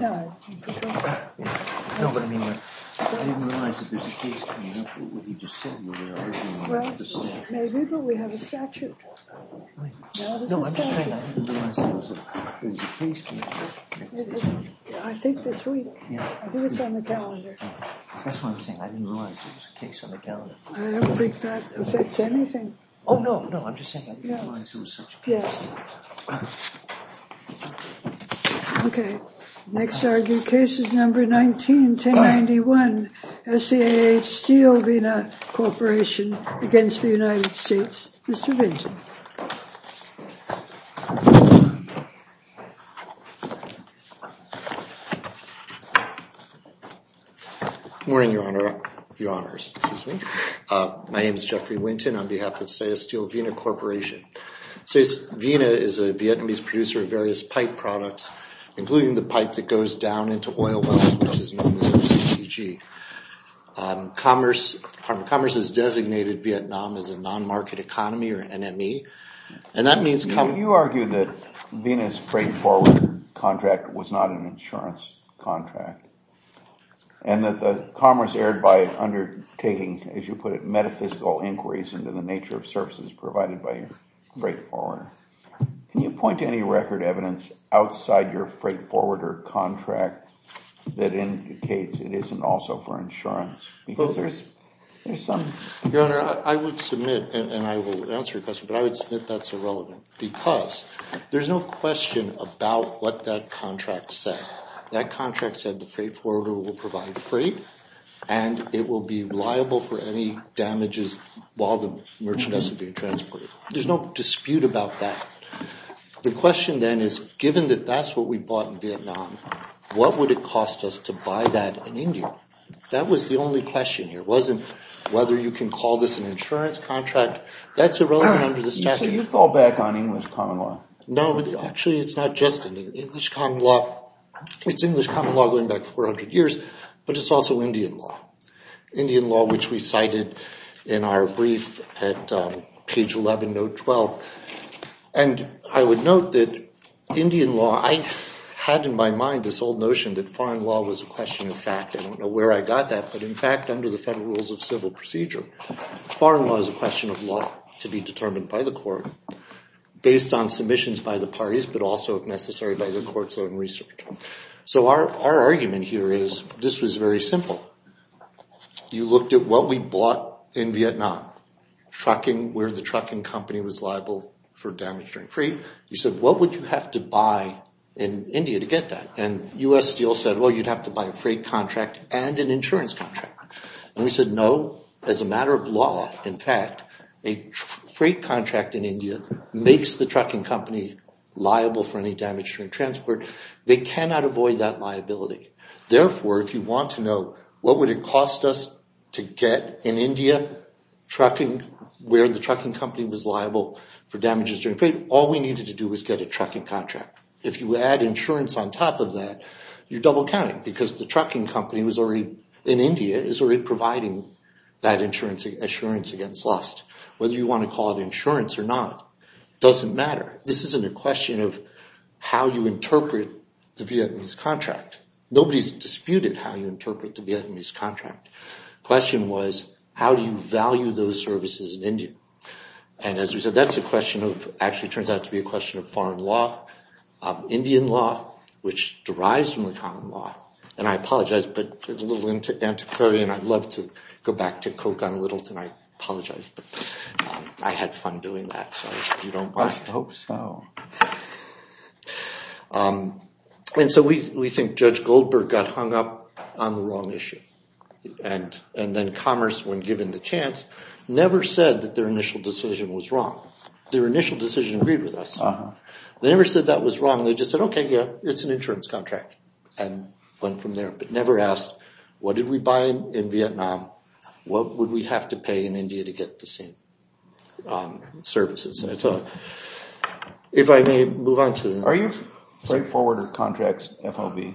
No, but I mean, I didn't realize that there's a case coming up with what you just said. Well, maybe, but we have a statute. No, I'm just saying I didn't realize there was a case coming up. I think this week. I think it's on the calendar. That's what I'm saying. I didn't realize there was a case on the calendar. I don't think that affects anything. Oh, no, no, I'm just saying I didn't realize there was such a case. Yes. Okay. Next argue cases number 19 to 91. S. C. H. Steel Vena Corporation against the United States. Mr. Vincent. Morning, Your Honor. Your Honors. My name is Jeffrey Winton on behalf of say a steel Vena Corporation. So, Vena is a Vietnamese producer of various pipe products, including the pipe that goes down into oil wells, which is known as a CGG. Commerce has designated Vietnam as a non-market economy or NME. And that means... Well, you argue that Vena's freight forward contract was not an insurance contract. And that the commerce erred by undertaking, as you put it, metaphysical inquiries into the nature of services provided by your freight forwarder. Can you point to any record evidence outside your freight forwarder contract that indicates it isn't also for insurance? Your Honor, I would submit, and I will answer your question, but I would submit that's irrelevant. Because there's no question about what that contract said. That contract said the freight forwarder will provide freight, and it will be reliable for any damages while the merchandise is being transported. There's no dispute about that. The question then is, given that that's what we bought in Vietnam, what would it cost us to buy that in India? That was the only question here. It wasn't whether you can call this an insurance contract. That's irrelevant under the statute. So you fall back on English common law? No, actually, it's not just English common law. It's English common law going back 400 years, but it's also Indian law. Indian law, which we cited in our brief at page 11, note 12. And I would note that Indian law, I had in my mind this old notion that foreign law was a question of fact. I don't know where I got that, but in fact, under the Federal Rules of Civil Procedure, foreign law is a question of law to be determined by the court based on submissions by the parties, but also, if necessary, by the court's own research. So our argument here is this was very simple. You looked at what we bought in Vietnam, where the trucking company was liable for damage during freight. You said, what would you have to buy in India to get that? And U.S. Steel said, well, you'd have to buy a freight contract and an insurance contract. And we said, no. As a matter of law, in fact, a freight contract in India makes the trucking company liable for any damage during transport. They cannot avoid that liability. Therefore, if you want to know what would it cost us to get in India where the trucking company was liable for damages during freight, all we needed to do was get a trucking contract. If you add insurance on top of that, you're double counting, because the trucking company in India is already providing that insurance against loss. Whether you want to call it insurance or not doesn't matter. This isn't a question of how you interpret the Vietnamese contract. Nobody's disputed how you interpret the Vietnamese contract. The question was, how do you value those services in India? And as we said, that's a question of – actually, it turns out to be a question of foreign law, Indian law, which derives from the common law. And I apologize, but it's a little antiquarian. I'd love to go back to Coke on Littleton. I apologize, but I had fun doing that, so if you don't mind. I hope so. And so we think Judge Goldberg got hung up on the wrong issue. And then Commerce, when given the chance, never said that their initial decision was wrong. Their initial decision agreed with us. They never said that was wrong. They just said, okay, yeah, it's an insurance contract, and went from there, but never asked what did we buy in Vietnam, what would we have to pay in India to get the same services. If I may move on to the next slide. Are you straightforward with contracts, FOB?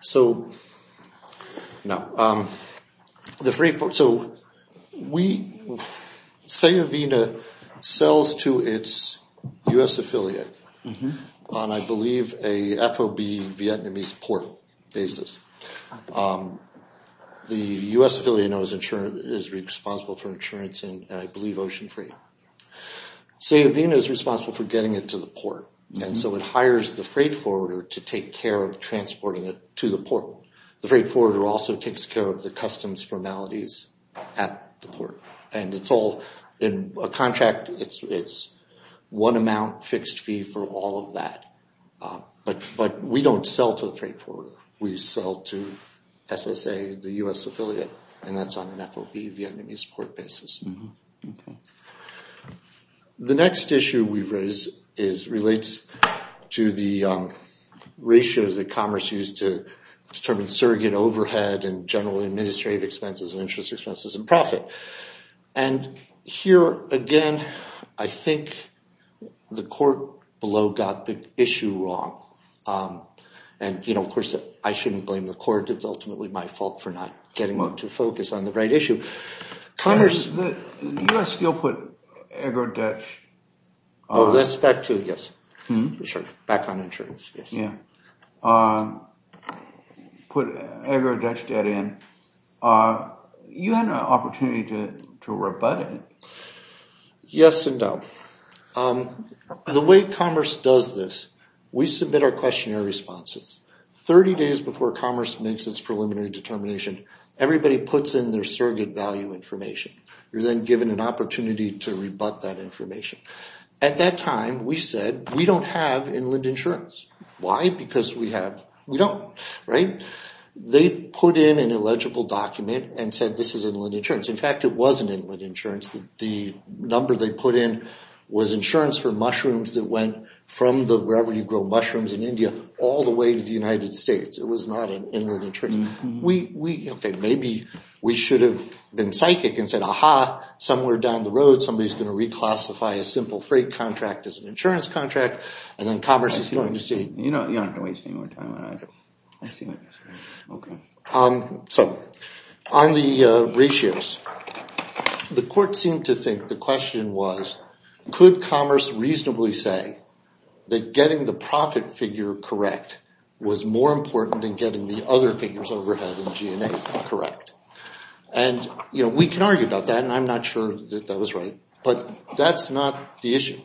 So, no. So, we – Sayavina sells to its U.S. affiliate on, I believe, a FOB Vietnamese port basis. The U.S. affiliate is responsible for insurance in, I believe, ocean freight. Sayavina is responsible for getting it to the port. And so it hires the freight forwarder to take care of transporting it to the port. The freight forwarder also takes care of the customs formalities at the port. And it's all in a contract. It's one amount fixed fee for all of that. But we don't sell to the freight forwarder. We sell to SSA, the U.S. affiliate, and that's on an FOB, Vietnamese port basis. The next issue we've raised relates to the ratios that Commerce used to determine surrogate overhead and general administrative expenses and interest expenses and profit. And here, again, I think the court below got the issue wrong. And, you know, of course, I shouldn't blame the court. It's ultimately my fault for not getting them to focus on the right issue. Commerce – The U.S. still put agri-debt – Oh, that's back to – yes. Back on insurance, yes. Yeah. Put agri-debt in. You had an opportunity to rebut it. Yes and no. The way Commerce does this, we submit our questionnaire responses. Thirty days before Commerce makes its preliminary determination, everybody puts in their surrogate value information. You're then given an opportunity to rebut that information. At that time, we said we don't have inland insurance. Why? Because we have – we don't, right? They put in an illegible document and said this is inland insurance. In fact, it wasn't inland insurance. The number they put in was insurance for mushrooms that went from the – wherever you grow mushrooms in India all the way to the United States. It was not an inland insurance. We – okay, maybe we should have been psychic and said, aha, somewhere down the road somebody's going to reclassify a simple freight contract as an insurance contract, and then Commerce is going to see – You don't have to waste any more time on that. I see what you're saying. Okay. So on the ratios, the court seemed to think the question was, could Commerce reasonably say that getting the profit figure correct was more important than getting the other figures overhead in G&A correct? And, you know, we can argue about that, and I'm not sure that that was right, but that's not the issue.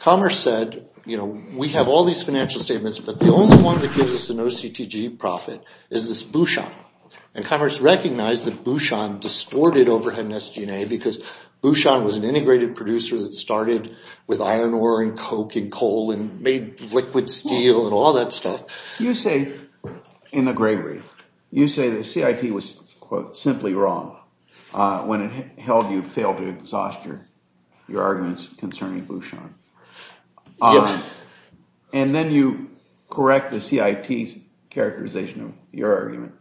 Commerce said, you know, we have all these financial statements, but the only one that gives us an OCTG profit is this Bouchon, and Commerce recognized that Bouchon distorted overhead in S&A because Bouchon was an integrated producer that started with iron ore and coke and coal and made liquid steel and all that stuff. You say in the Gregory, you say the CIT was, quote, simply wrong when it held you failed to exhaust your arguments concerning Bouchon. Yes. And then you correct the CIT's characterization of your argument.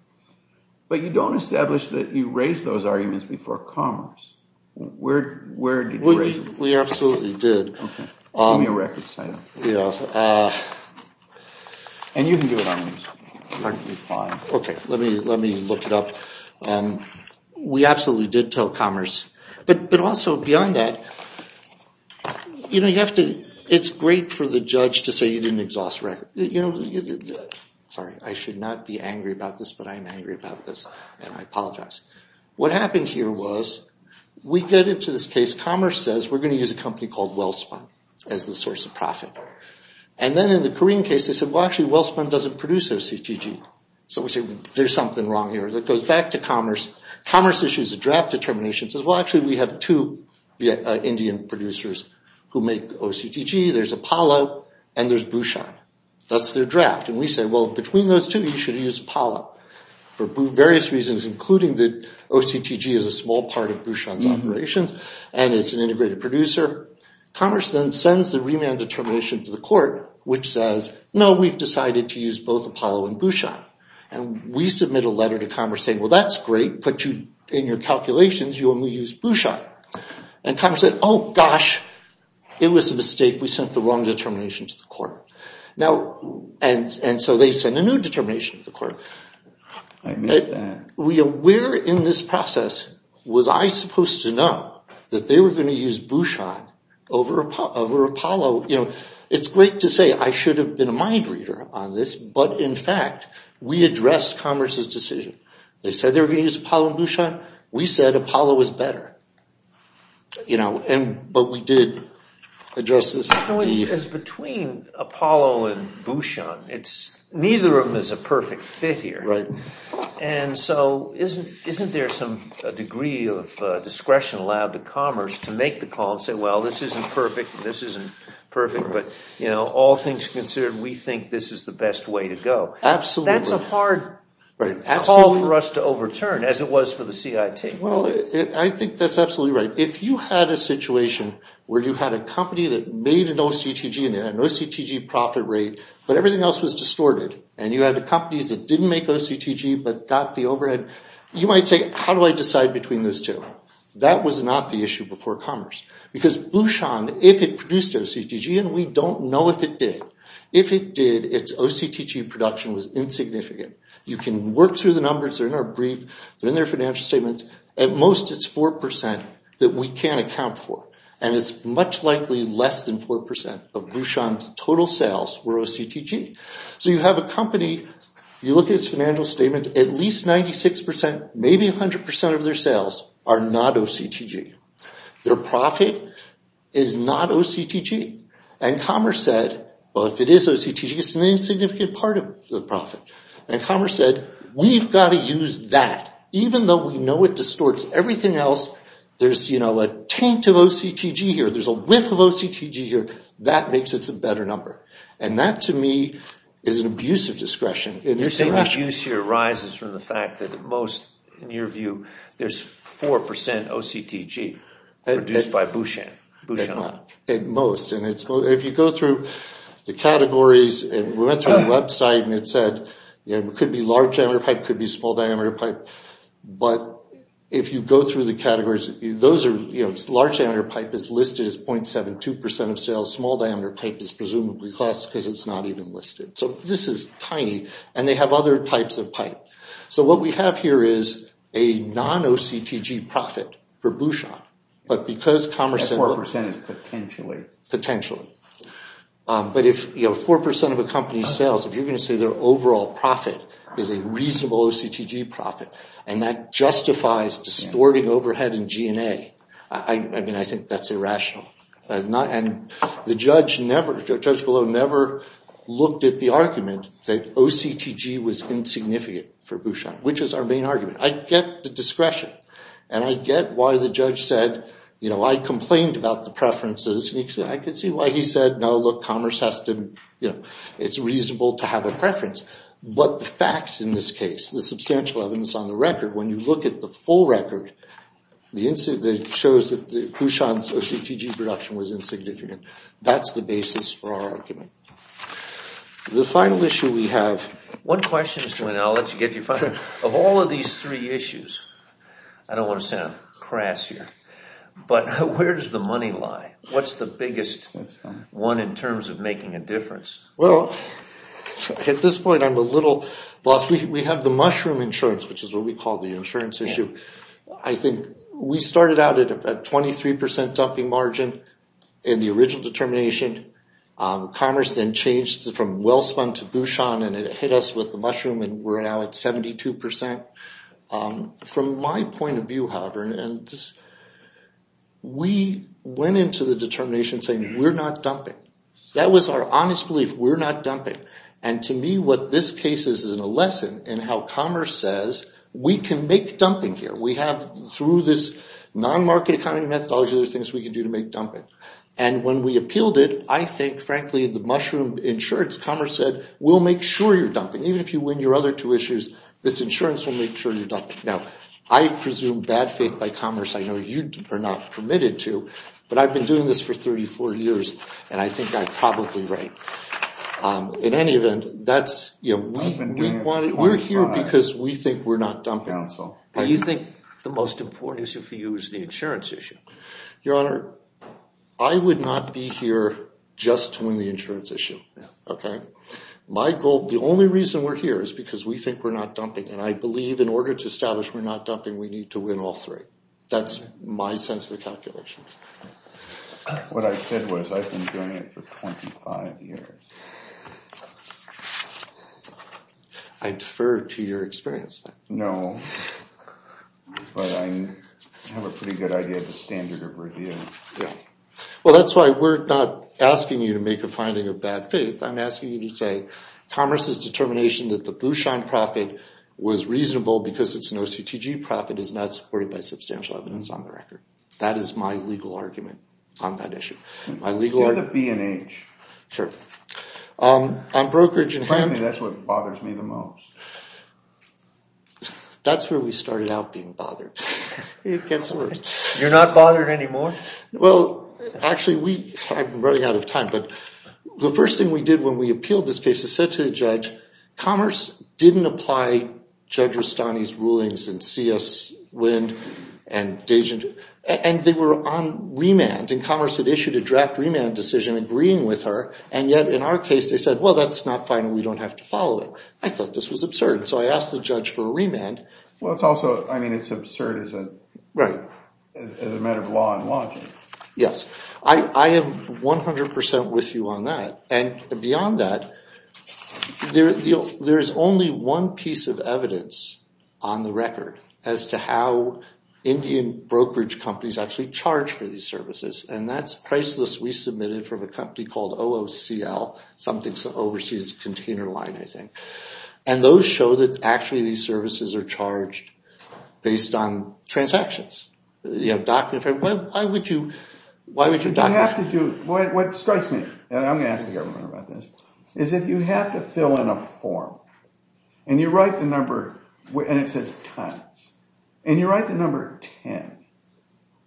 But you don't establish that you raised those arguments before Commerce. Where did you raise them? We absolutely did. Give me your records. And you can do it on these. Okay, let me look it up. We absolutely did tell Commerce. But also, beyond that, you know, you have to – it's great for the judge to say you didn't exhaust the record. Sorry, I should not be angry about this, but I am angry about this, and I apologize. What happened here was we get into this case, Commerce says we're going to use a company called Wellspun as the source of profit. And then in the Korean case, they said, well, actually, Wellspun doesn't produce OCTG. So we say, there's something wrong here. It goes back to Commerce. Commerce issues a draft determination. It says, well, actually, we have two Indian producers who make OCTG. There's Apollo, and there's Bouchon. That's their draft. And we say, well, between those two, you should use Apollo for various reasons, including that OCTG is a small part of Bouchon's operations, and it's an integrated producer. Commerce then sends the remand determination to the court, which says, no, we've decided to use both Apollo and Bouchon. And we submit a letter to Commerce saying, well, that's great. Put you in your calculations. You only use Bouchon. And Commerce said, oh, gosh, it was a mistake. We sent the wrong determination to the court. And so they send a new determination to the court. Where in this process was I supposed to know that they were going to use Bouchon over Apollo? You know, it's great to say I should have been a mind reader on this, but, in fact, we addressed Commerce's decision. They said they were going to use Apollo and Bouchon. We said Apollo was better. You know, but we did address this. Because between Apollo and Bouchon, neither of them is a perfect fit here. Right. And so isn't there some degree of discretion allowed to Commerce to make the call and say, well, this isn't perfect, and this isn't perfect, but, you know, all things considered, we think this is the best way to go? Absolutely. That's a hard call for us to overturn, as it was for the CIT. Well, I think that's absolutely right. If you had a situation where you had a company that made an OCTG and had an OCTG profit rate, but everything else was distorted, and you had companies that didn't make OCTG but got the overhead, you might say, how do I decide between these two? That was not the issue before Commerce. Because Bouchon, if it produced OCTG, and we don't know if it did, if it did, its OCTG production was insignificant. You can work through the numbers. They're in our brief. They're in their financial statements. At most, it's 4% that we can't account for. And it's much likely less than 4% of Bouchon's total sales were OCTG. So you have a company, you look at its financial statement, at least 96%, maybe 100% of their sales are not OCTG. Their profit is not OCTG. And Commerce said, well, if it is OCTG, it's an insignificant part of the profit. And Commerce said, we've got to use that. Even though we know it distorts everything else, there's a taint of OCTG here. There's a whiff of OCTG here. That makes it a better number. And that, to me, is an abuse of discretion. The abuse here arises from the fact that at most, in your view, there's 4% OCTG produced by Bouchon. At most. And if you go through the categories, and we went through the website, and it said it could be large diameter pipe, it could be small diameter pipe. But if you go through the categories, those are, you know, large diameter pipe is listed as 0.72% of sales. Small diameter pipe is presumably less because it's not even listed. So this is tiny. And they have other types of pipe. So what we have here is a non-OCTG profit for Bouchon. But because Commerce said- At 4%, potentially. Potentially. But if, you know, 4% of a company's sales, if you're going to say their overall profit is a reasonable OCTG profit, and that justifies distorting overhead and G&A, I mean, I think that's irrational. And the judge below never looked at the argument that OCTG was insignificant for Bouchon, which is our main argument. I get the discretion. And I get why the judge said, you know, I complained about the preferences. I could see why he said, no, look, Commerce has to, you know, it's reasonable to have a preference. But the facts in this case, the substantial evidence on the record, when you look at the full record, it shows that Bouchon's OCTG production was insignificant. That's the basis for our argument. The final issue we have- One question, Mr. Winn, and I'll let you get to your final. Of all of these three issues, I don't want to sound crass here, but where does the money lie? What's the biggest one in terms of making a difference? Well, at this point, I'm a little lost. We have the mushroom insurance, which is what we call the insurance issue. I think we started out at a 23% dumping margin in the original determination. Commerce then changed from Wellspun to Bouchon, and it hit us with the mushroom, and we're now at 72%. From my point of view, however, we went into the determination saying, we're not dumping. That was our honest belief. We're not dumping. And to me, what this case is, is a lesson in how commerce says, we can make dumping here. We have, through this non-market economy methodology, there's things we can do to make dumping. And when we appealed it, I think, frankly, the mushroom insurance, commerce said, we'll make sure you're dumping. Even if you win your other two issues, this insurance will make sure you're dumping. Now, I presume bad faith by commerce. I know you are not permitted to, but I've been doing this for 34 years, and I think I'm probably right. In any event, we're here because we think we're not dumping. What do you think the most important issue for you is the insurance issue? Your Honor, I would not be here just to win the insurance issue. My goal, the only reason we're here is because we think we're not dumping, and I believe in order to establish we're not dumping, we need to win all three. That's my sense of the calculations. What I said was I've been doing it for 25 years. I defer to your experience, then. No, but I have a pretty good idea of the standard of review. Well, that's why we're not asking you to make a finding of bad faith. I'm asking you to say commerce's determination that the blue shine profit was reasonable because it's an OCTG profit is not supported by substantial evidence on the record. That is my legal argument on that issue. Get a B&H. Sure. Apparently, that's what bothers me the most. That's where we started out being bothered. It gets worse. You're not bothered anymore? Well, actually, I'm running out of time, Commerce didn't apply Judge Rustani's rulings in C.S. Wynne and Dejan, and they were on remand, and Commerce had issued a draft remand decision agreeing with her, and yet in our case, they said, well, that's not fine, and we don't have to follow it. I thought this was absurd, so I asked the judge for a remand. Well, it's also, I mean, it's absurd as a matter of law and logic. Yes. I am 100% with you on that, and beyond that, there is only one piece of evidence on the record as to how Indian brokerage companies actually charge for these services, and that's a price list we submitted from a company called OOCL, something overseas container line, I think, and those show that actually these services are charged based on transactions. Why would you document that? What strikes me, and I'm going to ask the government about this, is that you have to fill in a form, and you write the number, and it says tons, and you write the number 10,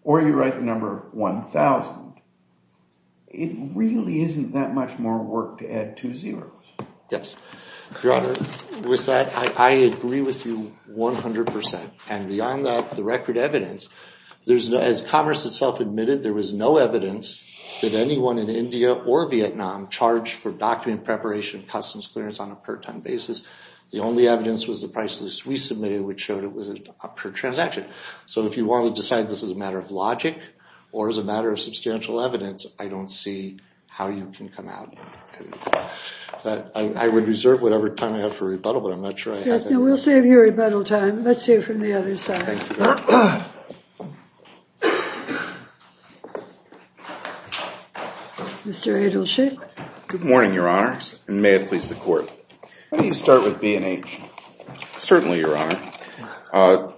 or you write the number 1,000. It really isn't that much more work to add two zeros. Yes. Your Honor, with that, I agree with you 100%, and beyond that, the record evidence, as Commerce itself admitted, there was no evidence that anyone in India or Vietnam charged for document preparation and customs clearance on a per-ton basis. The only evidence was the price list we submitted, which showed it was a per-transaction. So if you want to decide this is a matter of logic or as a matter of substantial evidence, I don't see how you can come out. I would reserve whatever time I have for rebuttal, but I'm not sure I have it. We'll save you rebuttal time. Let's hear from the other side. Thank you. Mr. Edelstein. Good morning, Your Honors, and may it please the Court. Let me start with B&H. Certainly, Your Honor.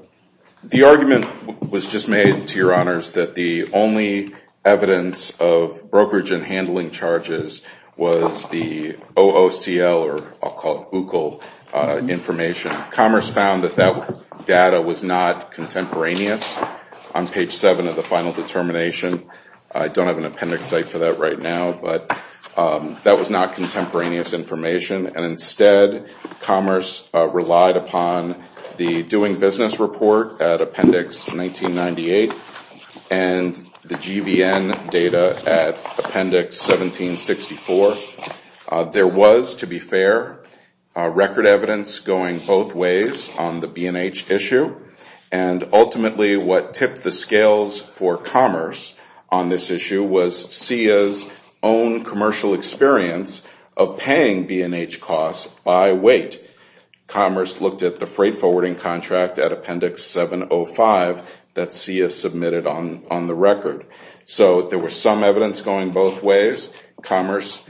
The argument was just made to Your Honors that the only evidence of brokerage and handling charges was the OOCL, or I'll call it OOCL, information. Commerce found that that data was not contemporaneous. On page 7 of the final determination, I don't have an appendix site for that right now, but that was not contemporaneous information. Instead, Commerce relied upon the Doing Business Report at Appendix 1998 and the GVN data at Appendix 1764. There was, to be fair, record evidence going both ways on the B&H issue, and ultimately what tipped the scales for Commerce on this issue was CEIA's own commercial experience of paying B&H costs by weight. Commerce looked at the freight forwarding contract at Appendix 705 that CEIA submitted on the record. So there was some evidence going both ways. Commerce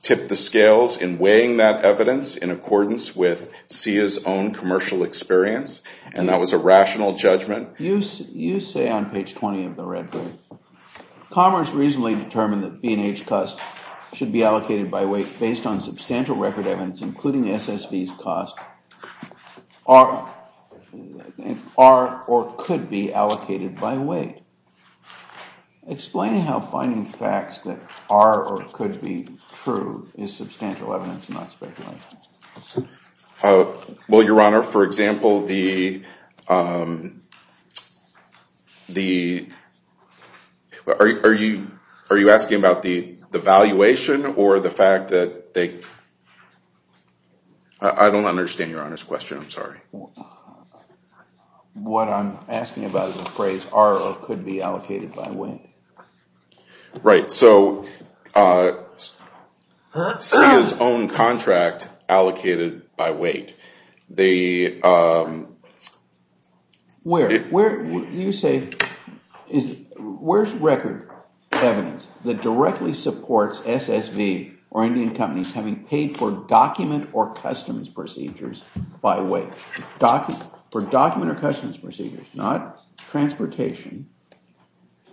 tipped the scales in weighing that evidence in accordance with CEIA's own commercial experience, and that was a rational judgment. You say on page 20 of the record, Commerce reasonably determined that B&H costs should be allocated by weight based on substantial record evidence, including SSV's cost, are or could be allocated by weight. Explaining how finding facts that are or could be true is substantial evidence and not speculation. Well, Your Honor, for example, the— are you asking about the valuation or the fact that they— I don't understand Your Honor's question. I'm sorry. What I'm asking about is the phrase are or could be allocated by weight. Right. So CEIA's own contract allocated by weight. They— Where? You say, where's record evidence that directly supports SSV or Indian companies having paid for document or customs procedures by weight. For document or customs procedures, not transportation.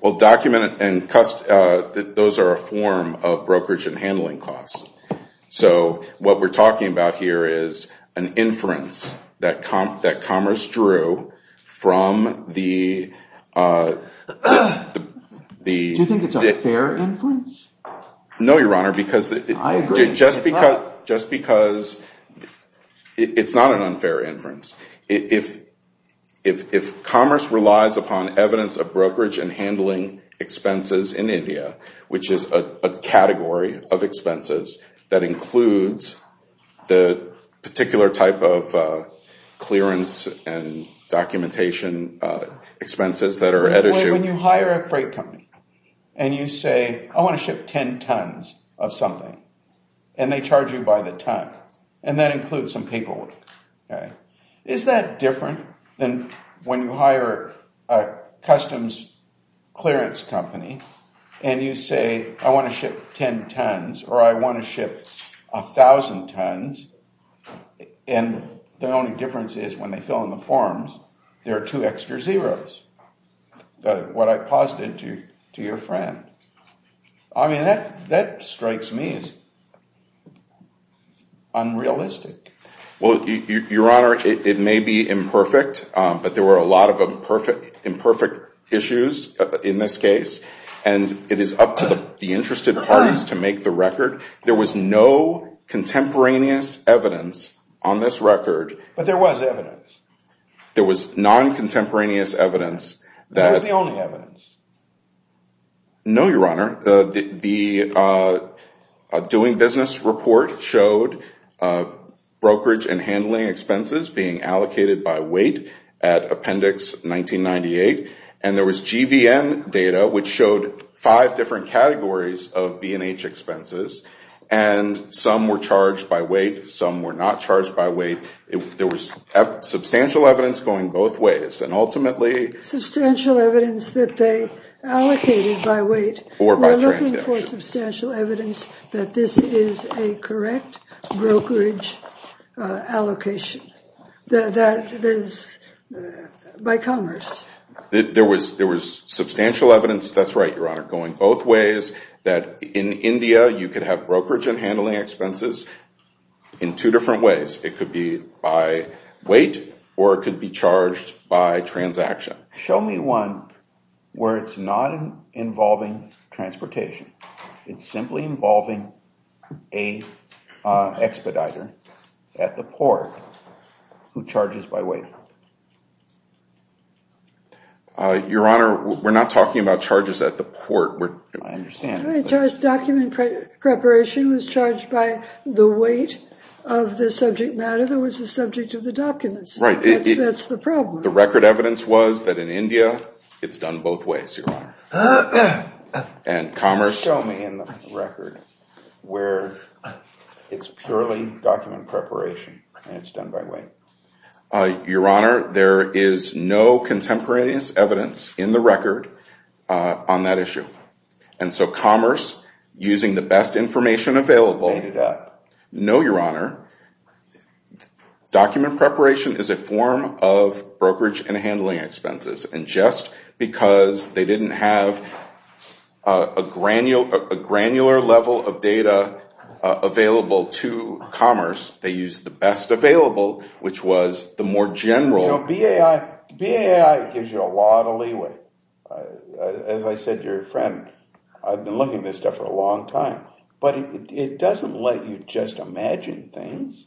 Well, document and—those are a form of brokerage and handling costs. So what we're talking about here is an inference that Commerce drew from the— Do you think it's a fair inference? No, Your Honor, because— I agree. Just because it's not an unfair inference. If Commerce relies upon evidence of brokerage and handling expenses in India, which is a category of expenses that includes the particular type of clearance and documentation expenses that are at issue— If you ship 10 tons of something and they charge you by the ton, and that includes some paperwork, is that different than when you hire a customs clearance company and you say, I want to ship 10 tons or I want to ship 1,000 tons, and the only difference is when they fill in the forms, there are two extra zeros, what I posited to your friend. I mean, that strikes me as unrealistic. Well, Your Honor, it may be imperfect, but there were a lot of imperfect issues in this case, and it is up to the interested parties to make the record. There was no contemporaneous evidence on this record. But there was evidence. There was non-contemporaneous evidence that— That was the only evidence. No, Your Honor. The doing business report showed brokerage and handling expenses being allocated by weight at Appendix 1998, and there was GVN data, which showed five different categories of B&H expenses, and some were charged by weight, some were not charged by weight. There was substantial evidence going both ways, and ultimately— Substantial evidence that they allocated by weight. Or by transaction. We're looking for substantial evidence that this is a correct brokerage allocation by commerce. There was substantial evidence—that's right, Your Honor—going both ways, that in India you could have brokerage and handling expenses in two different ways. It could be by weight, or it could be charged by transaction. Show me one where it's not involving transportation. It's simply involving an expediter at the port who charges by weight. Your Honor, we're not talking about charges at the port. I understand. Document preparation was charged by the weight of the subject matter that was the subject of the documents. Right. That's the problem. The record evidence was that in India it's done both ways, Your Honor. And commerce— Show me in the record where it's purely document preparation, and it's done by weight. Your Honor, there is no contemporaneous evidence in the record on that issue. And so commerce, using the best information available— No, Your Honor. No, Your Honor. Document preparation is a form of brokerage and handling expenses. And just because they didn't have a granular level of data available to commerce, they used the best available, which was the more general— You know, BAI gives you a lot of leeway. As I said to your friend, I've been looking at this stuff for a long time. But it doesn't let you just imagine things.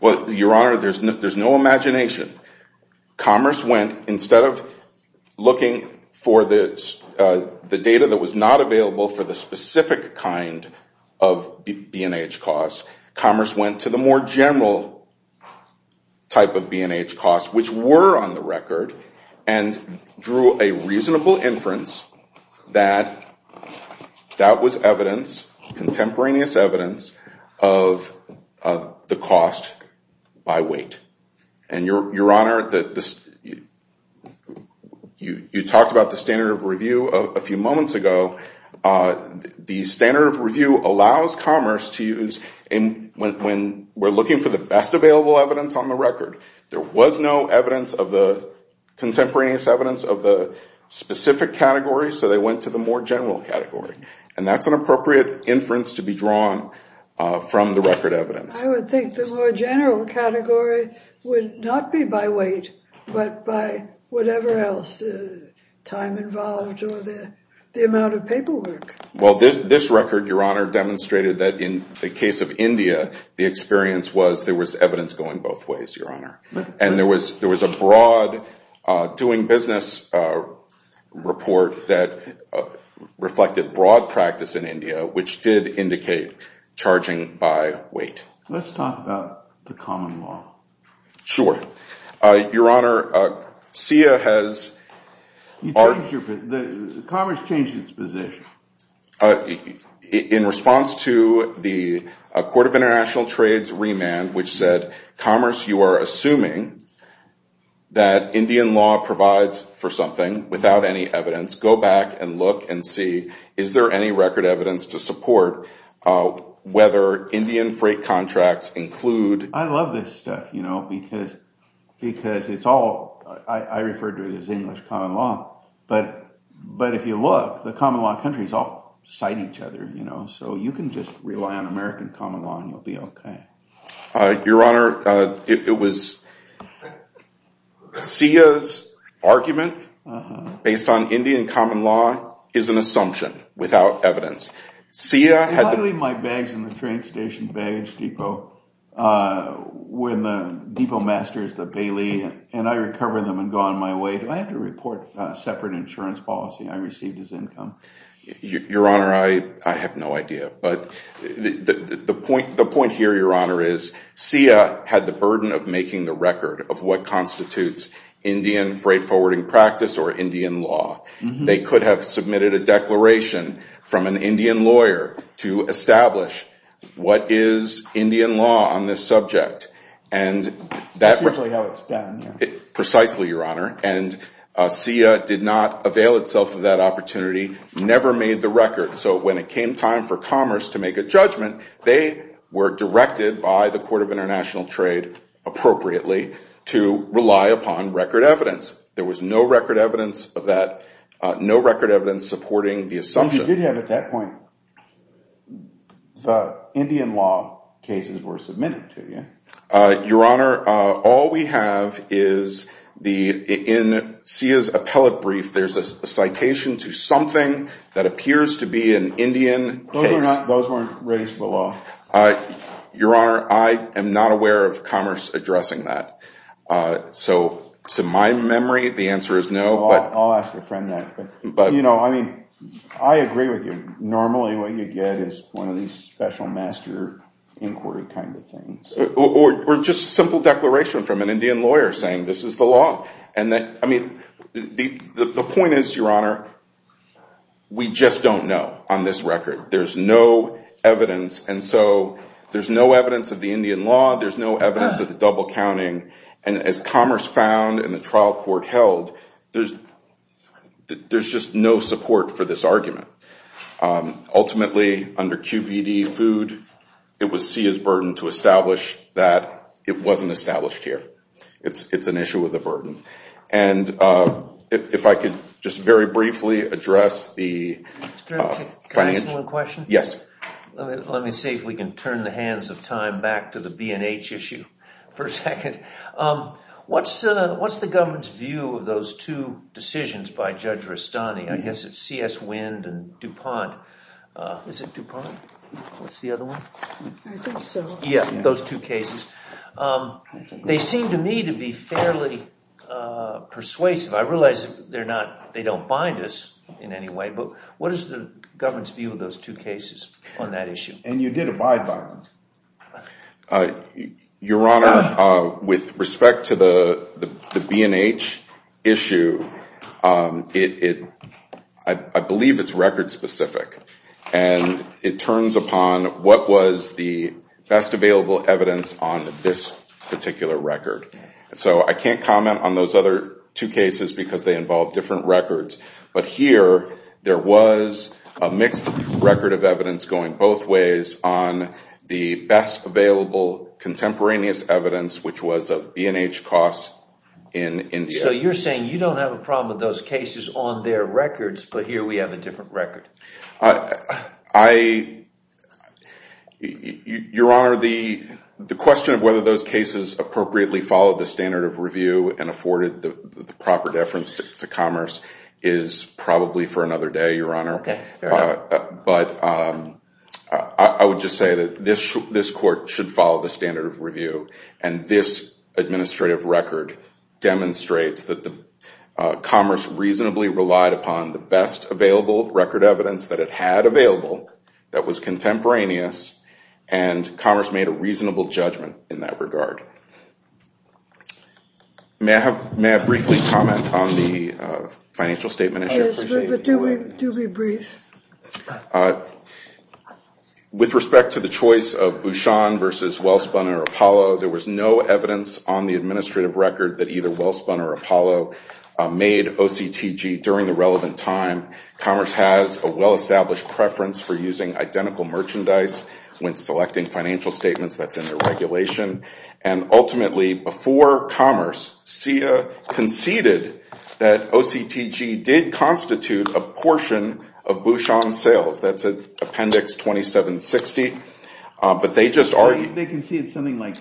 Well, Your Honor, there's no imagination. Commerce went, instead of looking for the data that was not available for the specific kind of B&H costs, commerce went to the more general type of B&H costs, which were on the record, and drew a reasonable inference that that was evidence, contemporaneous evidence, of the cost by weight. And, Your Honor, you talked about the standard of review a few moments ago. The standard of review allows commerce to use— When we're looking for the best available evidence on the record, there was no evidence of the—contemporaneous evidence of the specific category, so they went to the more general category. And that's an appropriate inference to be drawn from the record evidence. I would think the more general category would not be by weight, but by whatever else—time involved or the amount of paperwork. Well, this record, Your Honor, demonstrated that in the case of India, the experience was there was evidence going both ways, Your Honor. And there was a broad doing business report that reflected broad practice in India, which did indicate charging by weight. Let's talk about the common law. Sure. Your Honor, SIA has— The commerce changed its position. In response to the Court of International Trades' remand, which said, commerce, you are assuming that Indian law provides for something without any evidence. Go back and look and see is there any record evidence to support whether Indian freight contracts include— I love this stuff, you know, because it's all—I refer to it as English common law. But if you look, the common law countries all cite each other, you know, so you can just rely on American common law and you'll be okay. Your Honor, it was—SIA's argument based on Indian common law is an assumption without evidence. SIA had— If I leave my bags in the train station baggage depot when the depot master is the bailey and I recover them and go on my way, do I have to report separate insurance policy? I received his income. Your Honor, I have no idea. But the point here, Your Honor, is SIA had the burden of making the record of what constitutes Indian freight forwarding practice or Indian law. They could have submitted a declaration from an Indian lawyer to establish what is Indian law on this subject. That's usually how it's done. Precisely, Your Honor. And SIA did not avail itself of that opportunity, never made the record. So when it came time for Commerce to make a judgment, they were directed by the Court of International Trade appropriately to rely upon record evidence. There was no record evidence of that, no record evidence supporting the assumption. Well, you did have at that point the Indian law cases were submitted to you. Your Honor, all we have is the—in SIA's appellate brief, there's a citation to something that appears to be an Indian case. Those weren't raised to the law. Your Honor, I am not aware of Commerce addressing that. So to my memory, the answer is no. I'll ask a friend that. You know, I mean, I agree with you. Normally what you get is one of these special master inquiry kind of things. Or just a simple declaration from an Indian lawyer saying this is the law. I mean, the point is, Your Honor, we just don't know on this record. There's no evidence. And so there's no evidence of the Indian law. There's no evidence of the double counting. And as Commerce found and the trial court held, there's just no support for this argument. Ultimately, under QBD food, it was SIA's burden to establish that it wasn't established here. It's an issue with a burden. And if I could just very briefly address the financial— Can I ask you one question? Yes. Let me see if we can turn the hands of time back to the B&H issue for a second. What's the government's view of those two decisions by Judge Rustani? I guess it's C.S. Wind and DuPont. Is it DuPont? What's the other one? I think so. Yeah, those two cases. They seem to me to be fairly persuasive. I realize they don't bind us in any way. But what is the government's view of those two cases on that issue? And you did abide by them. Your Honor, with respect to the B&H issue, I believe it's record specific. And it turns upon what was the best available evidence on this particular record. So I can't comment on those other two cases because they involve different records. But here, there was a mixed record of evidence going both ways on the best available contemporaneous evidence, which was of B&H costs in India. So you're saying you don't have a problem with those cases on their records, but here we have a different record. Your Honor, the question of whether those cases appropriately followed the standard of review and afforded the proper deference to Commerce is probably for another day, Your Honor. But I would just say that this court should follow the standard of review. And this administrative record demonstrates that Commerce reasonably relied upon the best available record evidence that it had available that was contemporaneous, and Commerce made a reasonable judgment in that regard. May I briefly comment on the financial statement issue? Yes, but do be brief. With respect to the choice of Bouchon versus Wellspun or Apollo, there was no evidence on the administrative record that either Wellspun or Apollo made OCTG during the relevant time. Commerce has a well-established preference for using identical merchandise when selecting financial statements. That's in their regulation. And ultimately, before Commerce, CIA conceded that OCTG did constitute a portion of Bouchon's sales. That's in Appendix 2760. But they just argued... They conceded something like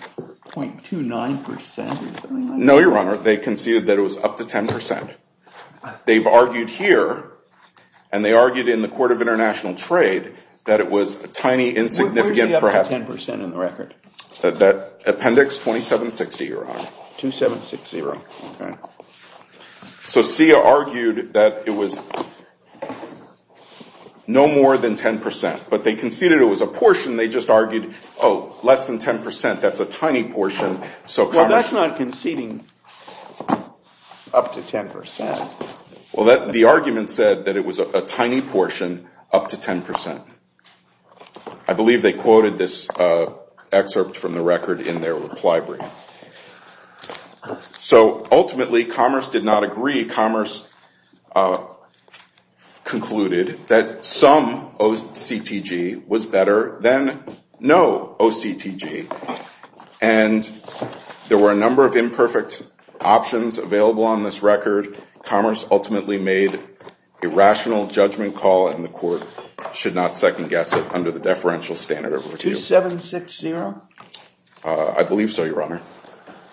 0.29% or something like that? No, Your Honor. They conceded that it was up to 10%. They've argued here, and they argued in the Court of International Trade, that it was a tiny, insignificant... Where do you have the 10% in the record? Appendix 2760, Your Honor. 2760, okay. So CIA argued that it was no more than 10%. But they conceded it was a portion. They just argued, oh, less than 10%. That's a tiny portion. Well, that's not conceding up to 10%. Well, the argument said that it was a tiny portion up to 10%. I believe they quoted this excerpt from the record in their reply brief. So ultimately, Commerce did not agree. Commerce concluded that some OCTG was better than no OCTG. And there were a number of imperfect options available on this record. Commerce ultimately made a rational judgment call, and the court should not second-guess it under the deferential standard. 2760? I believe so, Your Honor.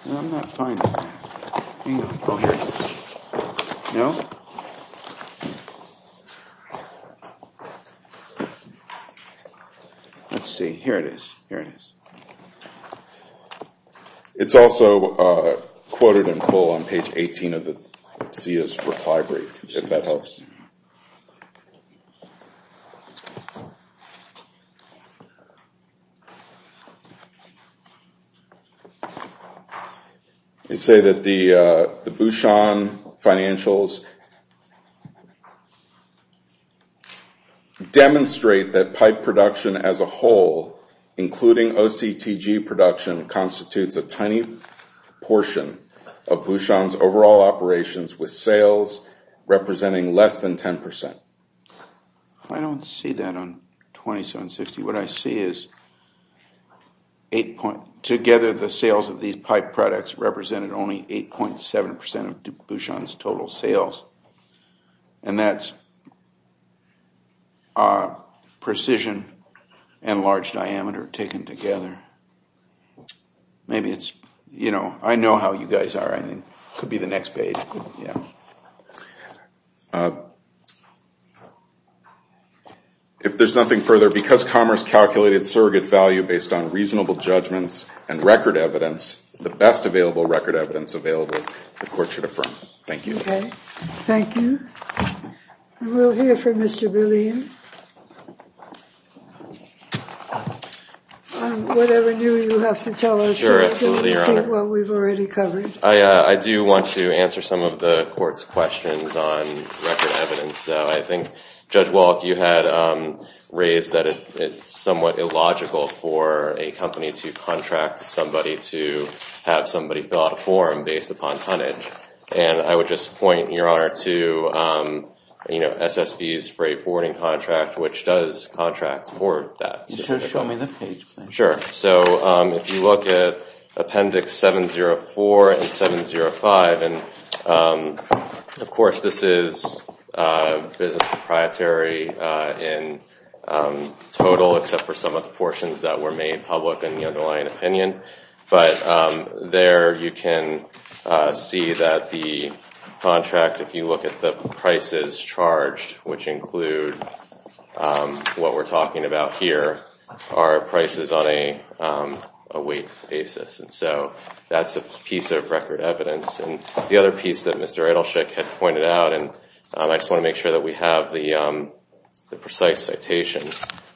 I'm not finding it. Oh, here it is. No? Let's see. Here it is. Here it is. It's also quoted in full on page 18 of the CIA's reply brief, if that helps. Let's see. They say that the Bouchon financials demonstrate that pipe production as a whole, including OCTG production, constitutes a tiny portion of Bouchon's overall operations, with sales representing less than 10%. I don't see that on 2760. What I see is together the sales of these pipe products represented only 8.7% of Bouchon's total sales. And that's precision and large diameter taken together. I know how you guys are. It could be the next page. If there's nothing further, because Commerce calculated surrogate value based on reasonable judgments and record evidence, the best available record evidence available, the court should affirm. Thank you. OK. Thank you. We'll hear from Mr. Bullion. Whatever new you have to tell us. Sure, absolutely, Your Honor. What we've already covered. I do want to answer some of the court's questions on record evidence, though. I think, Judge Walk, you had raised that it's somewhat illogical for a company to contract somebody to have somebody fill out a form based upon tonnage. And I would just point, Your Honor, to SSV's freight forwarding contract, which does contract for that. Can you show me that page, please? Sure. So if you look at Appendix 704 and 705, and, of course, this is business proprietary in total, except for some of the portions that were made public in the underlying opinion. But there you can see that the contract, if you look at the prices charged, which include what we're talking about here, are prices on a week basis. And so that's a piece of record evidence. And the other piece that Mr. Adelsheik had pointed out, and I just want to make sure that we have the precise citation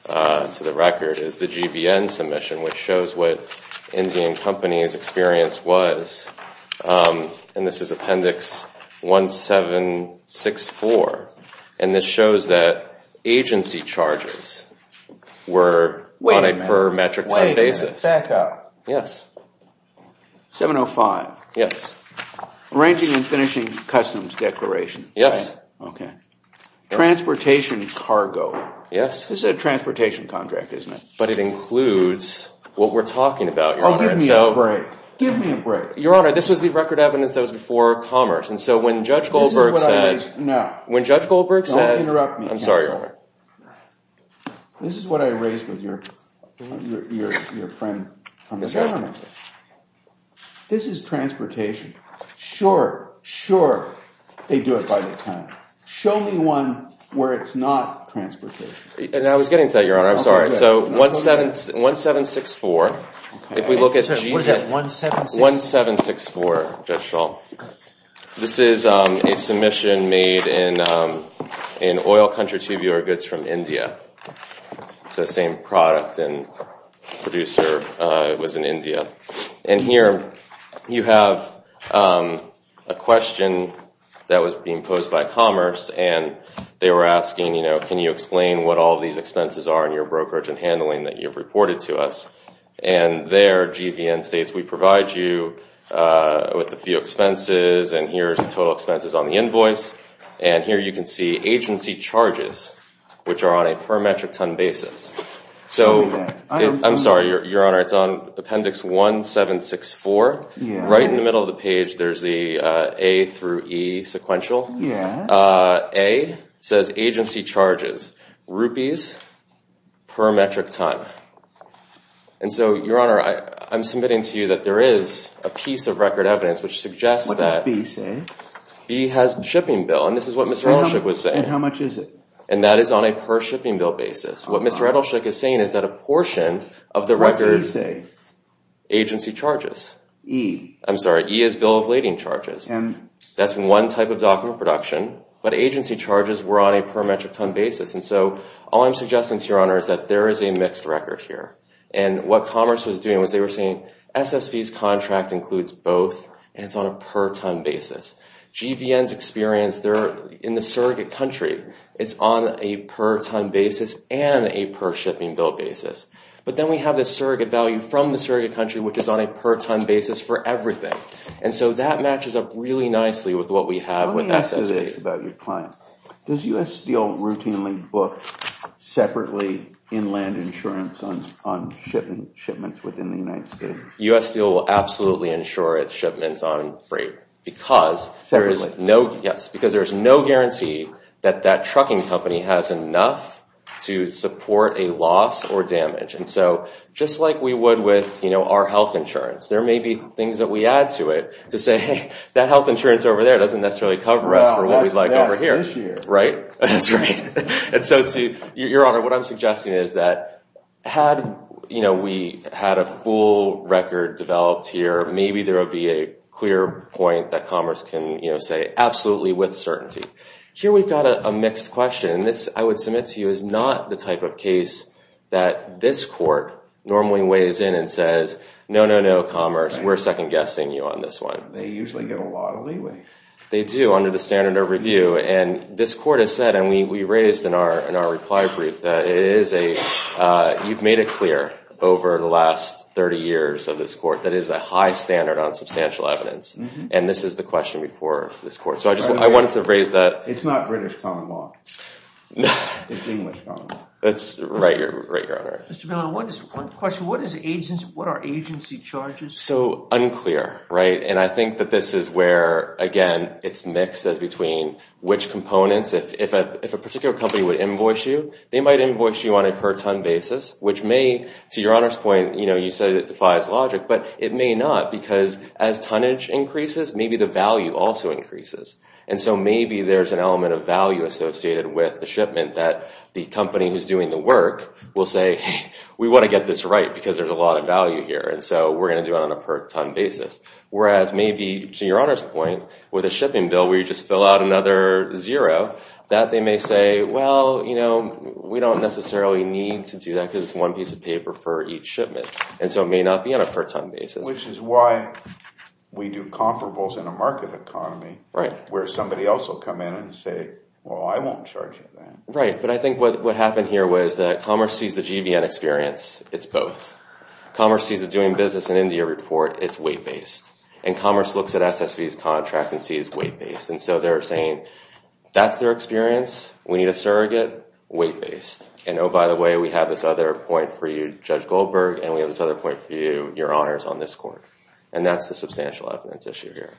to the record, is the GBN submission, which shows what Indian Company's experience was. And this is Appendix 1764. And this shows that agency charges were on a per metric ton basis. Wait a minute. Back up. Yes. 705. Yes. Arranging and finishing customs declaration. Yes. OK. Transportation cargo. Yes. This is a transportation contract, isn't it? But it includes what we're talking about, Your Honor. Oh, give me a break. Give me a break. Your Honor, this was the record evidence that was before Commerce. And so when Judge Goldberg said— No. When Judge Goldberg said— Don't interrupt me, counsel. I'm sorry, Your Honor. This is what I raised with your friend from the government. This is transportation. Sure, sure, they do it by the ton. Show me one where it's not transportation. And I was getting to that, Your Honor. I'm sorry. So 1764. If we look at— What is that, 1764? 1764, Judge Schall. This is a submission made in oil country tubular goods from India. So same product and producer was in India. And here you have a question that was being posed by Commerce, and they were asking, you know, can you explain what all these expenses are in your brokerage and handling that you've reported to us? And there, GVN states, we provide you with a few expenses, and here's the total expenses on the invoice. And here you can see agency charges, which are on a per metric ton basis. So— Show me that. I'm sorry, Your Honor. It's on Appendix 1764. Right in the middle of the page, there's the A through E sequential. Yeah. A says agency charges, rupees per metric ton. And so, Your Honor, I'm submitting to you that there is a piece of record evidence which suggests that— What does B say? B has shipping bill, and this is what Mr. Edelshoek was saying. And how much is it? And that is on a per shipping bill basis. What Mr. Edelshoek is saying is that a portion of the record— What does E say? Agency charges. E. I'm sorry. E is bill of lading charges. M. That's one type of document production. But agency charges were on a per metric ton basis. And so all I'm suggesting to Your Honor is that there is a mixed record here. And what Commerce was doing was they were saying SSV's contract includes both, and it's on a per ton basis. GVN's experience, they're in the surrogate country. It's on a per ton basis and a per shipping bill basis. But then we have the surrogate value from the surrogate country, which is on a per ton basis for everything. And so that matches up really nicely with what we have with SSV. Let me ask you this about your client. Does U.S. Steel routinely book separately inland insurance on shipments within the United States? U.S. Steel will absolutely insure its shipments on freight because there is no— Separately? Yes, because there is no guarantee that that trucking company has enough to support a loss or damage. And so just like we would with our health insurance, there may be things that we add to it to say, Hey, that health insurance over there doesn't necessarily cover us for what we'd like over here. Right? That's right. Your Honor, what I'm suggesting is that had we had a full record developed here, maybe there would be a clear point that Commerce can say absolutely with certainty. Here we've got a mixed question. This, I would submit to you, is not the type of case that this court normally weighs in and says, No, no, no, Commerce, we're second-guessing you on this one. They usually get a lot of leeway. They do, under the standard of review. And this court has said, and we raised in our reply brief, that it is a— you've made it clear over the last 30 years of this court that it is a high standard on substantial evidence. And this is the question before this court. So I just wanted to raise that. It's not British common law. It's English common law. Right, Your Honor. Mr. Milner, one question. What are agency charges? So unclear, right? And I think that this is where, again, it's mixed as between which components. If a particular company would invoice you, they might invoice you on a per-ton basis, which may, to Your Honor's point, you know, you said it defies logic, but it may not because as tonnage increases, maybe the value also increases. And so maybe there's an element of value associated with the shipment that the company who's doing the work will say, Hey, we want to get this right because there's a lot of value here. And so we're going to do it on a per-ton basis. Whereas maybe, to Your Honor's point, with a shipping bill where you just fill out another zero, that they may say, Well, you know, we don't necessarily need to do that because it's one piece of paper for each shipment. And so it may not be on a per-ton basis. Which is why we do comparables in a market economy where somebody else will come in and say, Well, I won't charge you that. Right, but I think what happened here was that commerce sees the GVN experience. It's both. Commerce sees a doing business in India report. It's weight-based. And commerce looks at SSV's contract and sees weight-based. And so they're saying, That's their experience. We need a surrogate. Weight-based. And, oh, by the way, we have this other point for you, Judge Goldberg, and we have this other point for you, Your Honors, on this court. And that's the substantial evidence issue here.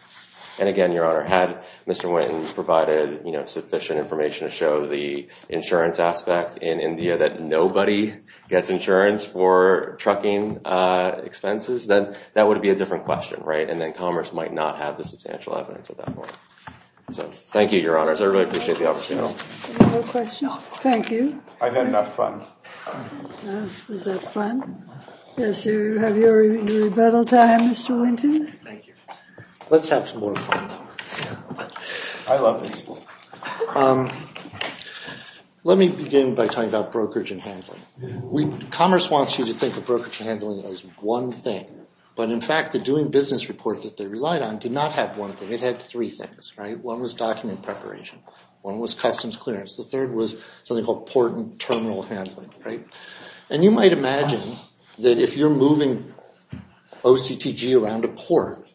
And again, Your Honor, had Mr. Wynton provided sufficient information to show the insurance aspect in India that nobody gets insurance for trucking expenses, then that would be a different question. And then commerce might not have the substantial evidence at that point. So thank you, Your Honors. I really appreciate the opportunity. Any more questions? Thank you. I've had enough fun. Is that fun? Yes, sir. Have you rebelled to Mr. Wynton? Thank you. Let's have some more fun. I love this. Let me begin by talking about brokerage and handling. Commerce wants you to think of brokerage and handling as one thing. But, in fact, the doing business report that they relied on did not have one thing. It had three things. One was document preparation. One was customs clearance. The third was something called port and terminal handling. And you might imagine that if you're moving OCTG around a port,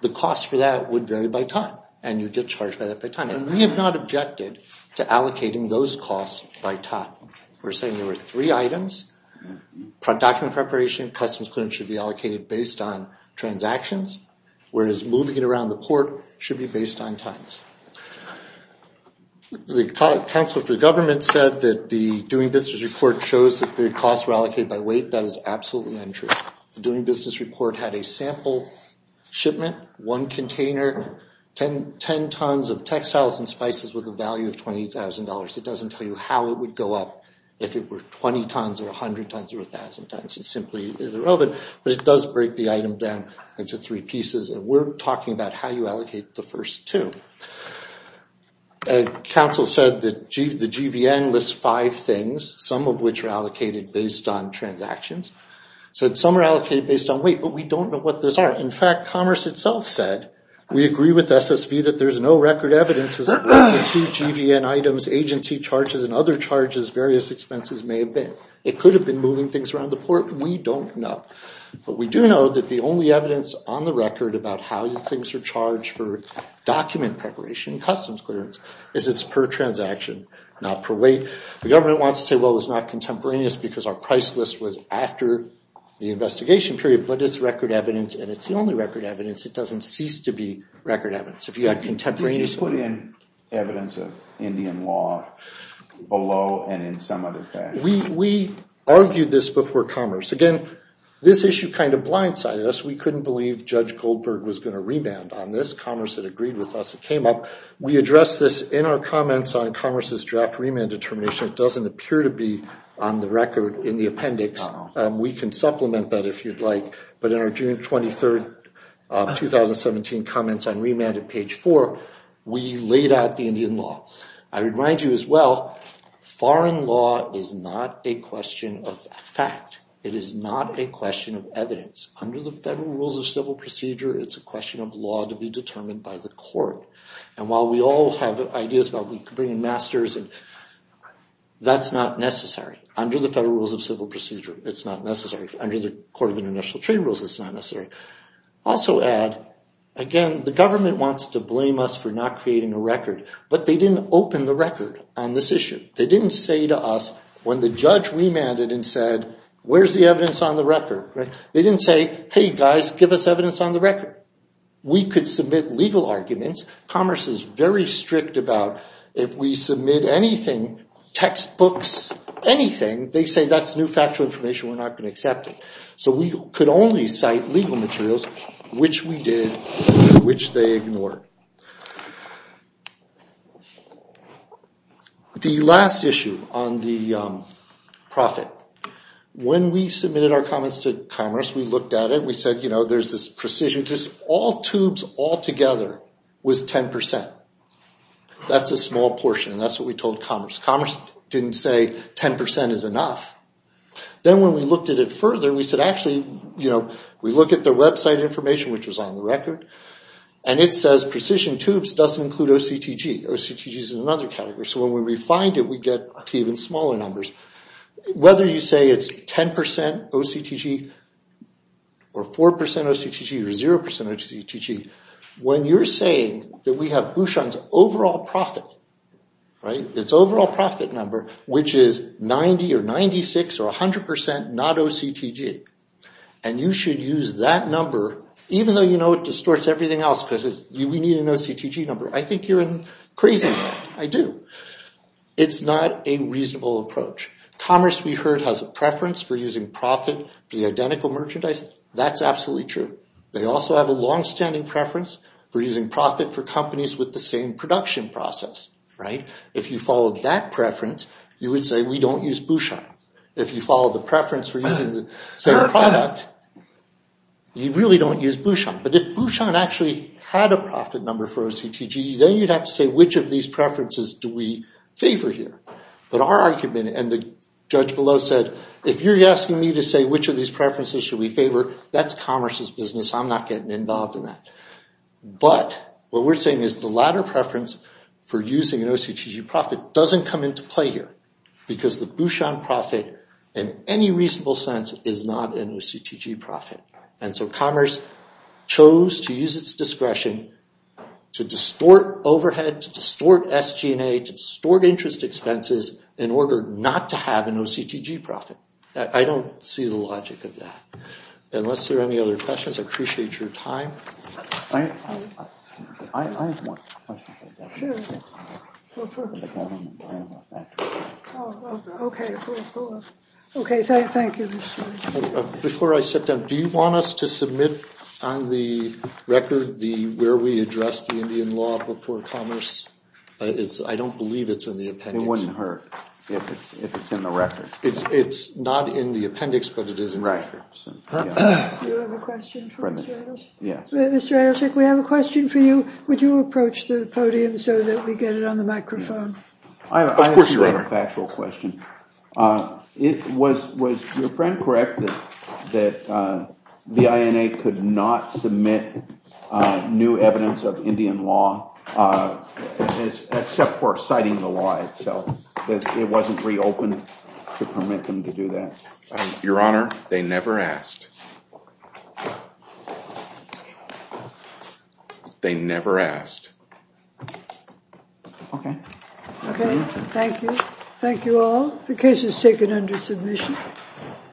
the cost for that would vary by time. And we have not objected to allocating those costs by time. We're saying there were three items. Document preparation, customs clearance should be allocated based on transactions, whereas moving it around the port should be based on times. The Council for Government said that the doing business report shows that the costs were allocated by weight. That is absolutely untrue. The doing business report had a sample shipment, one container, 10 tons of textiles and spices with a value of $20,000. It doesn't tell you how it would go up if it were 20 tons or 100 tons or 1,000 tons. It simply isn't relevant. But it does break the item down into three pieces. And we're talking about how you allocate the first two. Council said that the GVN lists five things, some of which are allocated based on transactions. So some are allocated based on weight, but we don't know what those are. In fact, Commerce itself said, we agree with SSV that there's no record evidence as to the two GVN items, agency charges and other charges, various expenses may have been. It could have been moving things around the port. We don't know. But we do know that the only evidence on the record about how things are charged for document preparation and customs clearance is it's per transaction, not per weight. The government wants to say, well, it's not contemporaneous because our price list was after the investigation period. But it's record evidence. And it's the only record evidence. It doesn't cease to be record evidence. If you had contemporaneous evidence. Did you put in evidence of Indian law below and in some other fashion? We argued this before Commerce. Again, this issue kind of blindsided us. We couldn't believe Judge Goldberg was going to remand on this. Commerce had agreed with us. It came up. We addressed this in our comments on Commerce's draft remand determination. It doesn't appear to be on the record in the appendix. We can supplement that if you'd like. But in our June 23, 2017 comments on remand at page 4, we laid out the Indian law. I remind you as well, foreign law is not a question of fact. It is not a question of evidence. Under the Federal Rules of Civil Procedure, it's a question of law to be determined by the court. And while we all have ideas about bringing masters, that's not necessary. Under the Federal Rules of Civil Procedure, it's not necessary. Under the Court of International Trade Rules, it's not necessary. Also add, again, the government wants to blame us for not creating a record. But they didn't open the record on this issue. They didn't say to us, when the judge remanded and said, where's the evidence on the record? They didn't say, hey, guys, give us evidence on the record. We could submit legal arguments. Commerce is very strict about if we submit anything, textbooks, anything, they say that's new factual information, we're not going to accept it. So we could only cite legal materials, which we did, which they ignored. The last issue on the profit. When we submitted our comments to Commerce, we looked at it, we said, you know, there's this precision. Just all tubes all together was 10%. That's a small portion, and that's what we told Commerce. Commerce didn't say 10% is enough. Then when we looked at it further, we said, actually, you know, we look at the website information, which was on the record, and it says precision tubes doesn't include OCTG. OCTG is another category. So when we refined it, we get even smaller numbers. Whether you say it's 10% OCTG or 4% OCTG or 0% OCTG, when you're saying that we have Bouchon's overall profit, right, its overall profit number, which is 90 or 96 or 100% not OCTG, and you should use that number, even though you know it distorts everything else because we need an OCTG number, I think you're crazy. I do. It's not a reasonable approach. Commerce, we heard, has a preference for using profit for the identical merchandise. That's absolutely true. They also have a longstanding preference for using profit for companies with the same production process, right? If you followed that preference, you would say we don't use Bouchon. If you follow the preference for using the same product, you really don't use Bouchon. But if Bouchon actually had a profit number for OCTG, then you'd have to say which of these preferences do we favor here. But our argument, and the judge below said, if you're asking me to say which of these preferences should we favor, that's commerce's business. I'm not getting involved in that. But what we're saying is the latter preference for using an OCTG profit doesn't come into play here because the Bouchon profit, in any reasonable sense, is not an OCTG profit. And so commerce chose to use its discretion to distort overhead, to distort SG&A, to distort interest expenses in order not to have an OCTG profit. I don't see the logic of that. Unless there are any other questions, I appreciate your time. I have one question. Sure. Go for it. Okay. Okay, thank you. Before I sit down, do you want us to submit on the record where we addressed the Indian law before commerce? I don't believe it's in the appendix. It wouldn't hurt if it's in the record. It's not in the appendix, but it is in the record. Do you have a question for Mr. Adelshick? Yes. Mr. Adelshick, we have a question for you. Would you approach the podium so that we get it on the microphone? I have a factual question. Was your friend correct that the INA could not submit new evidence of Indian law except for citing the law itself? It wasn't reopened to permit them to do that. Your Honor, they never asked. They never asked. Okay. Okay, thank you. Thank you all. The case is taken under submission.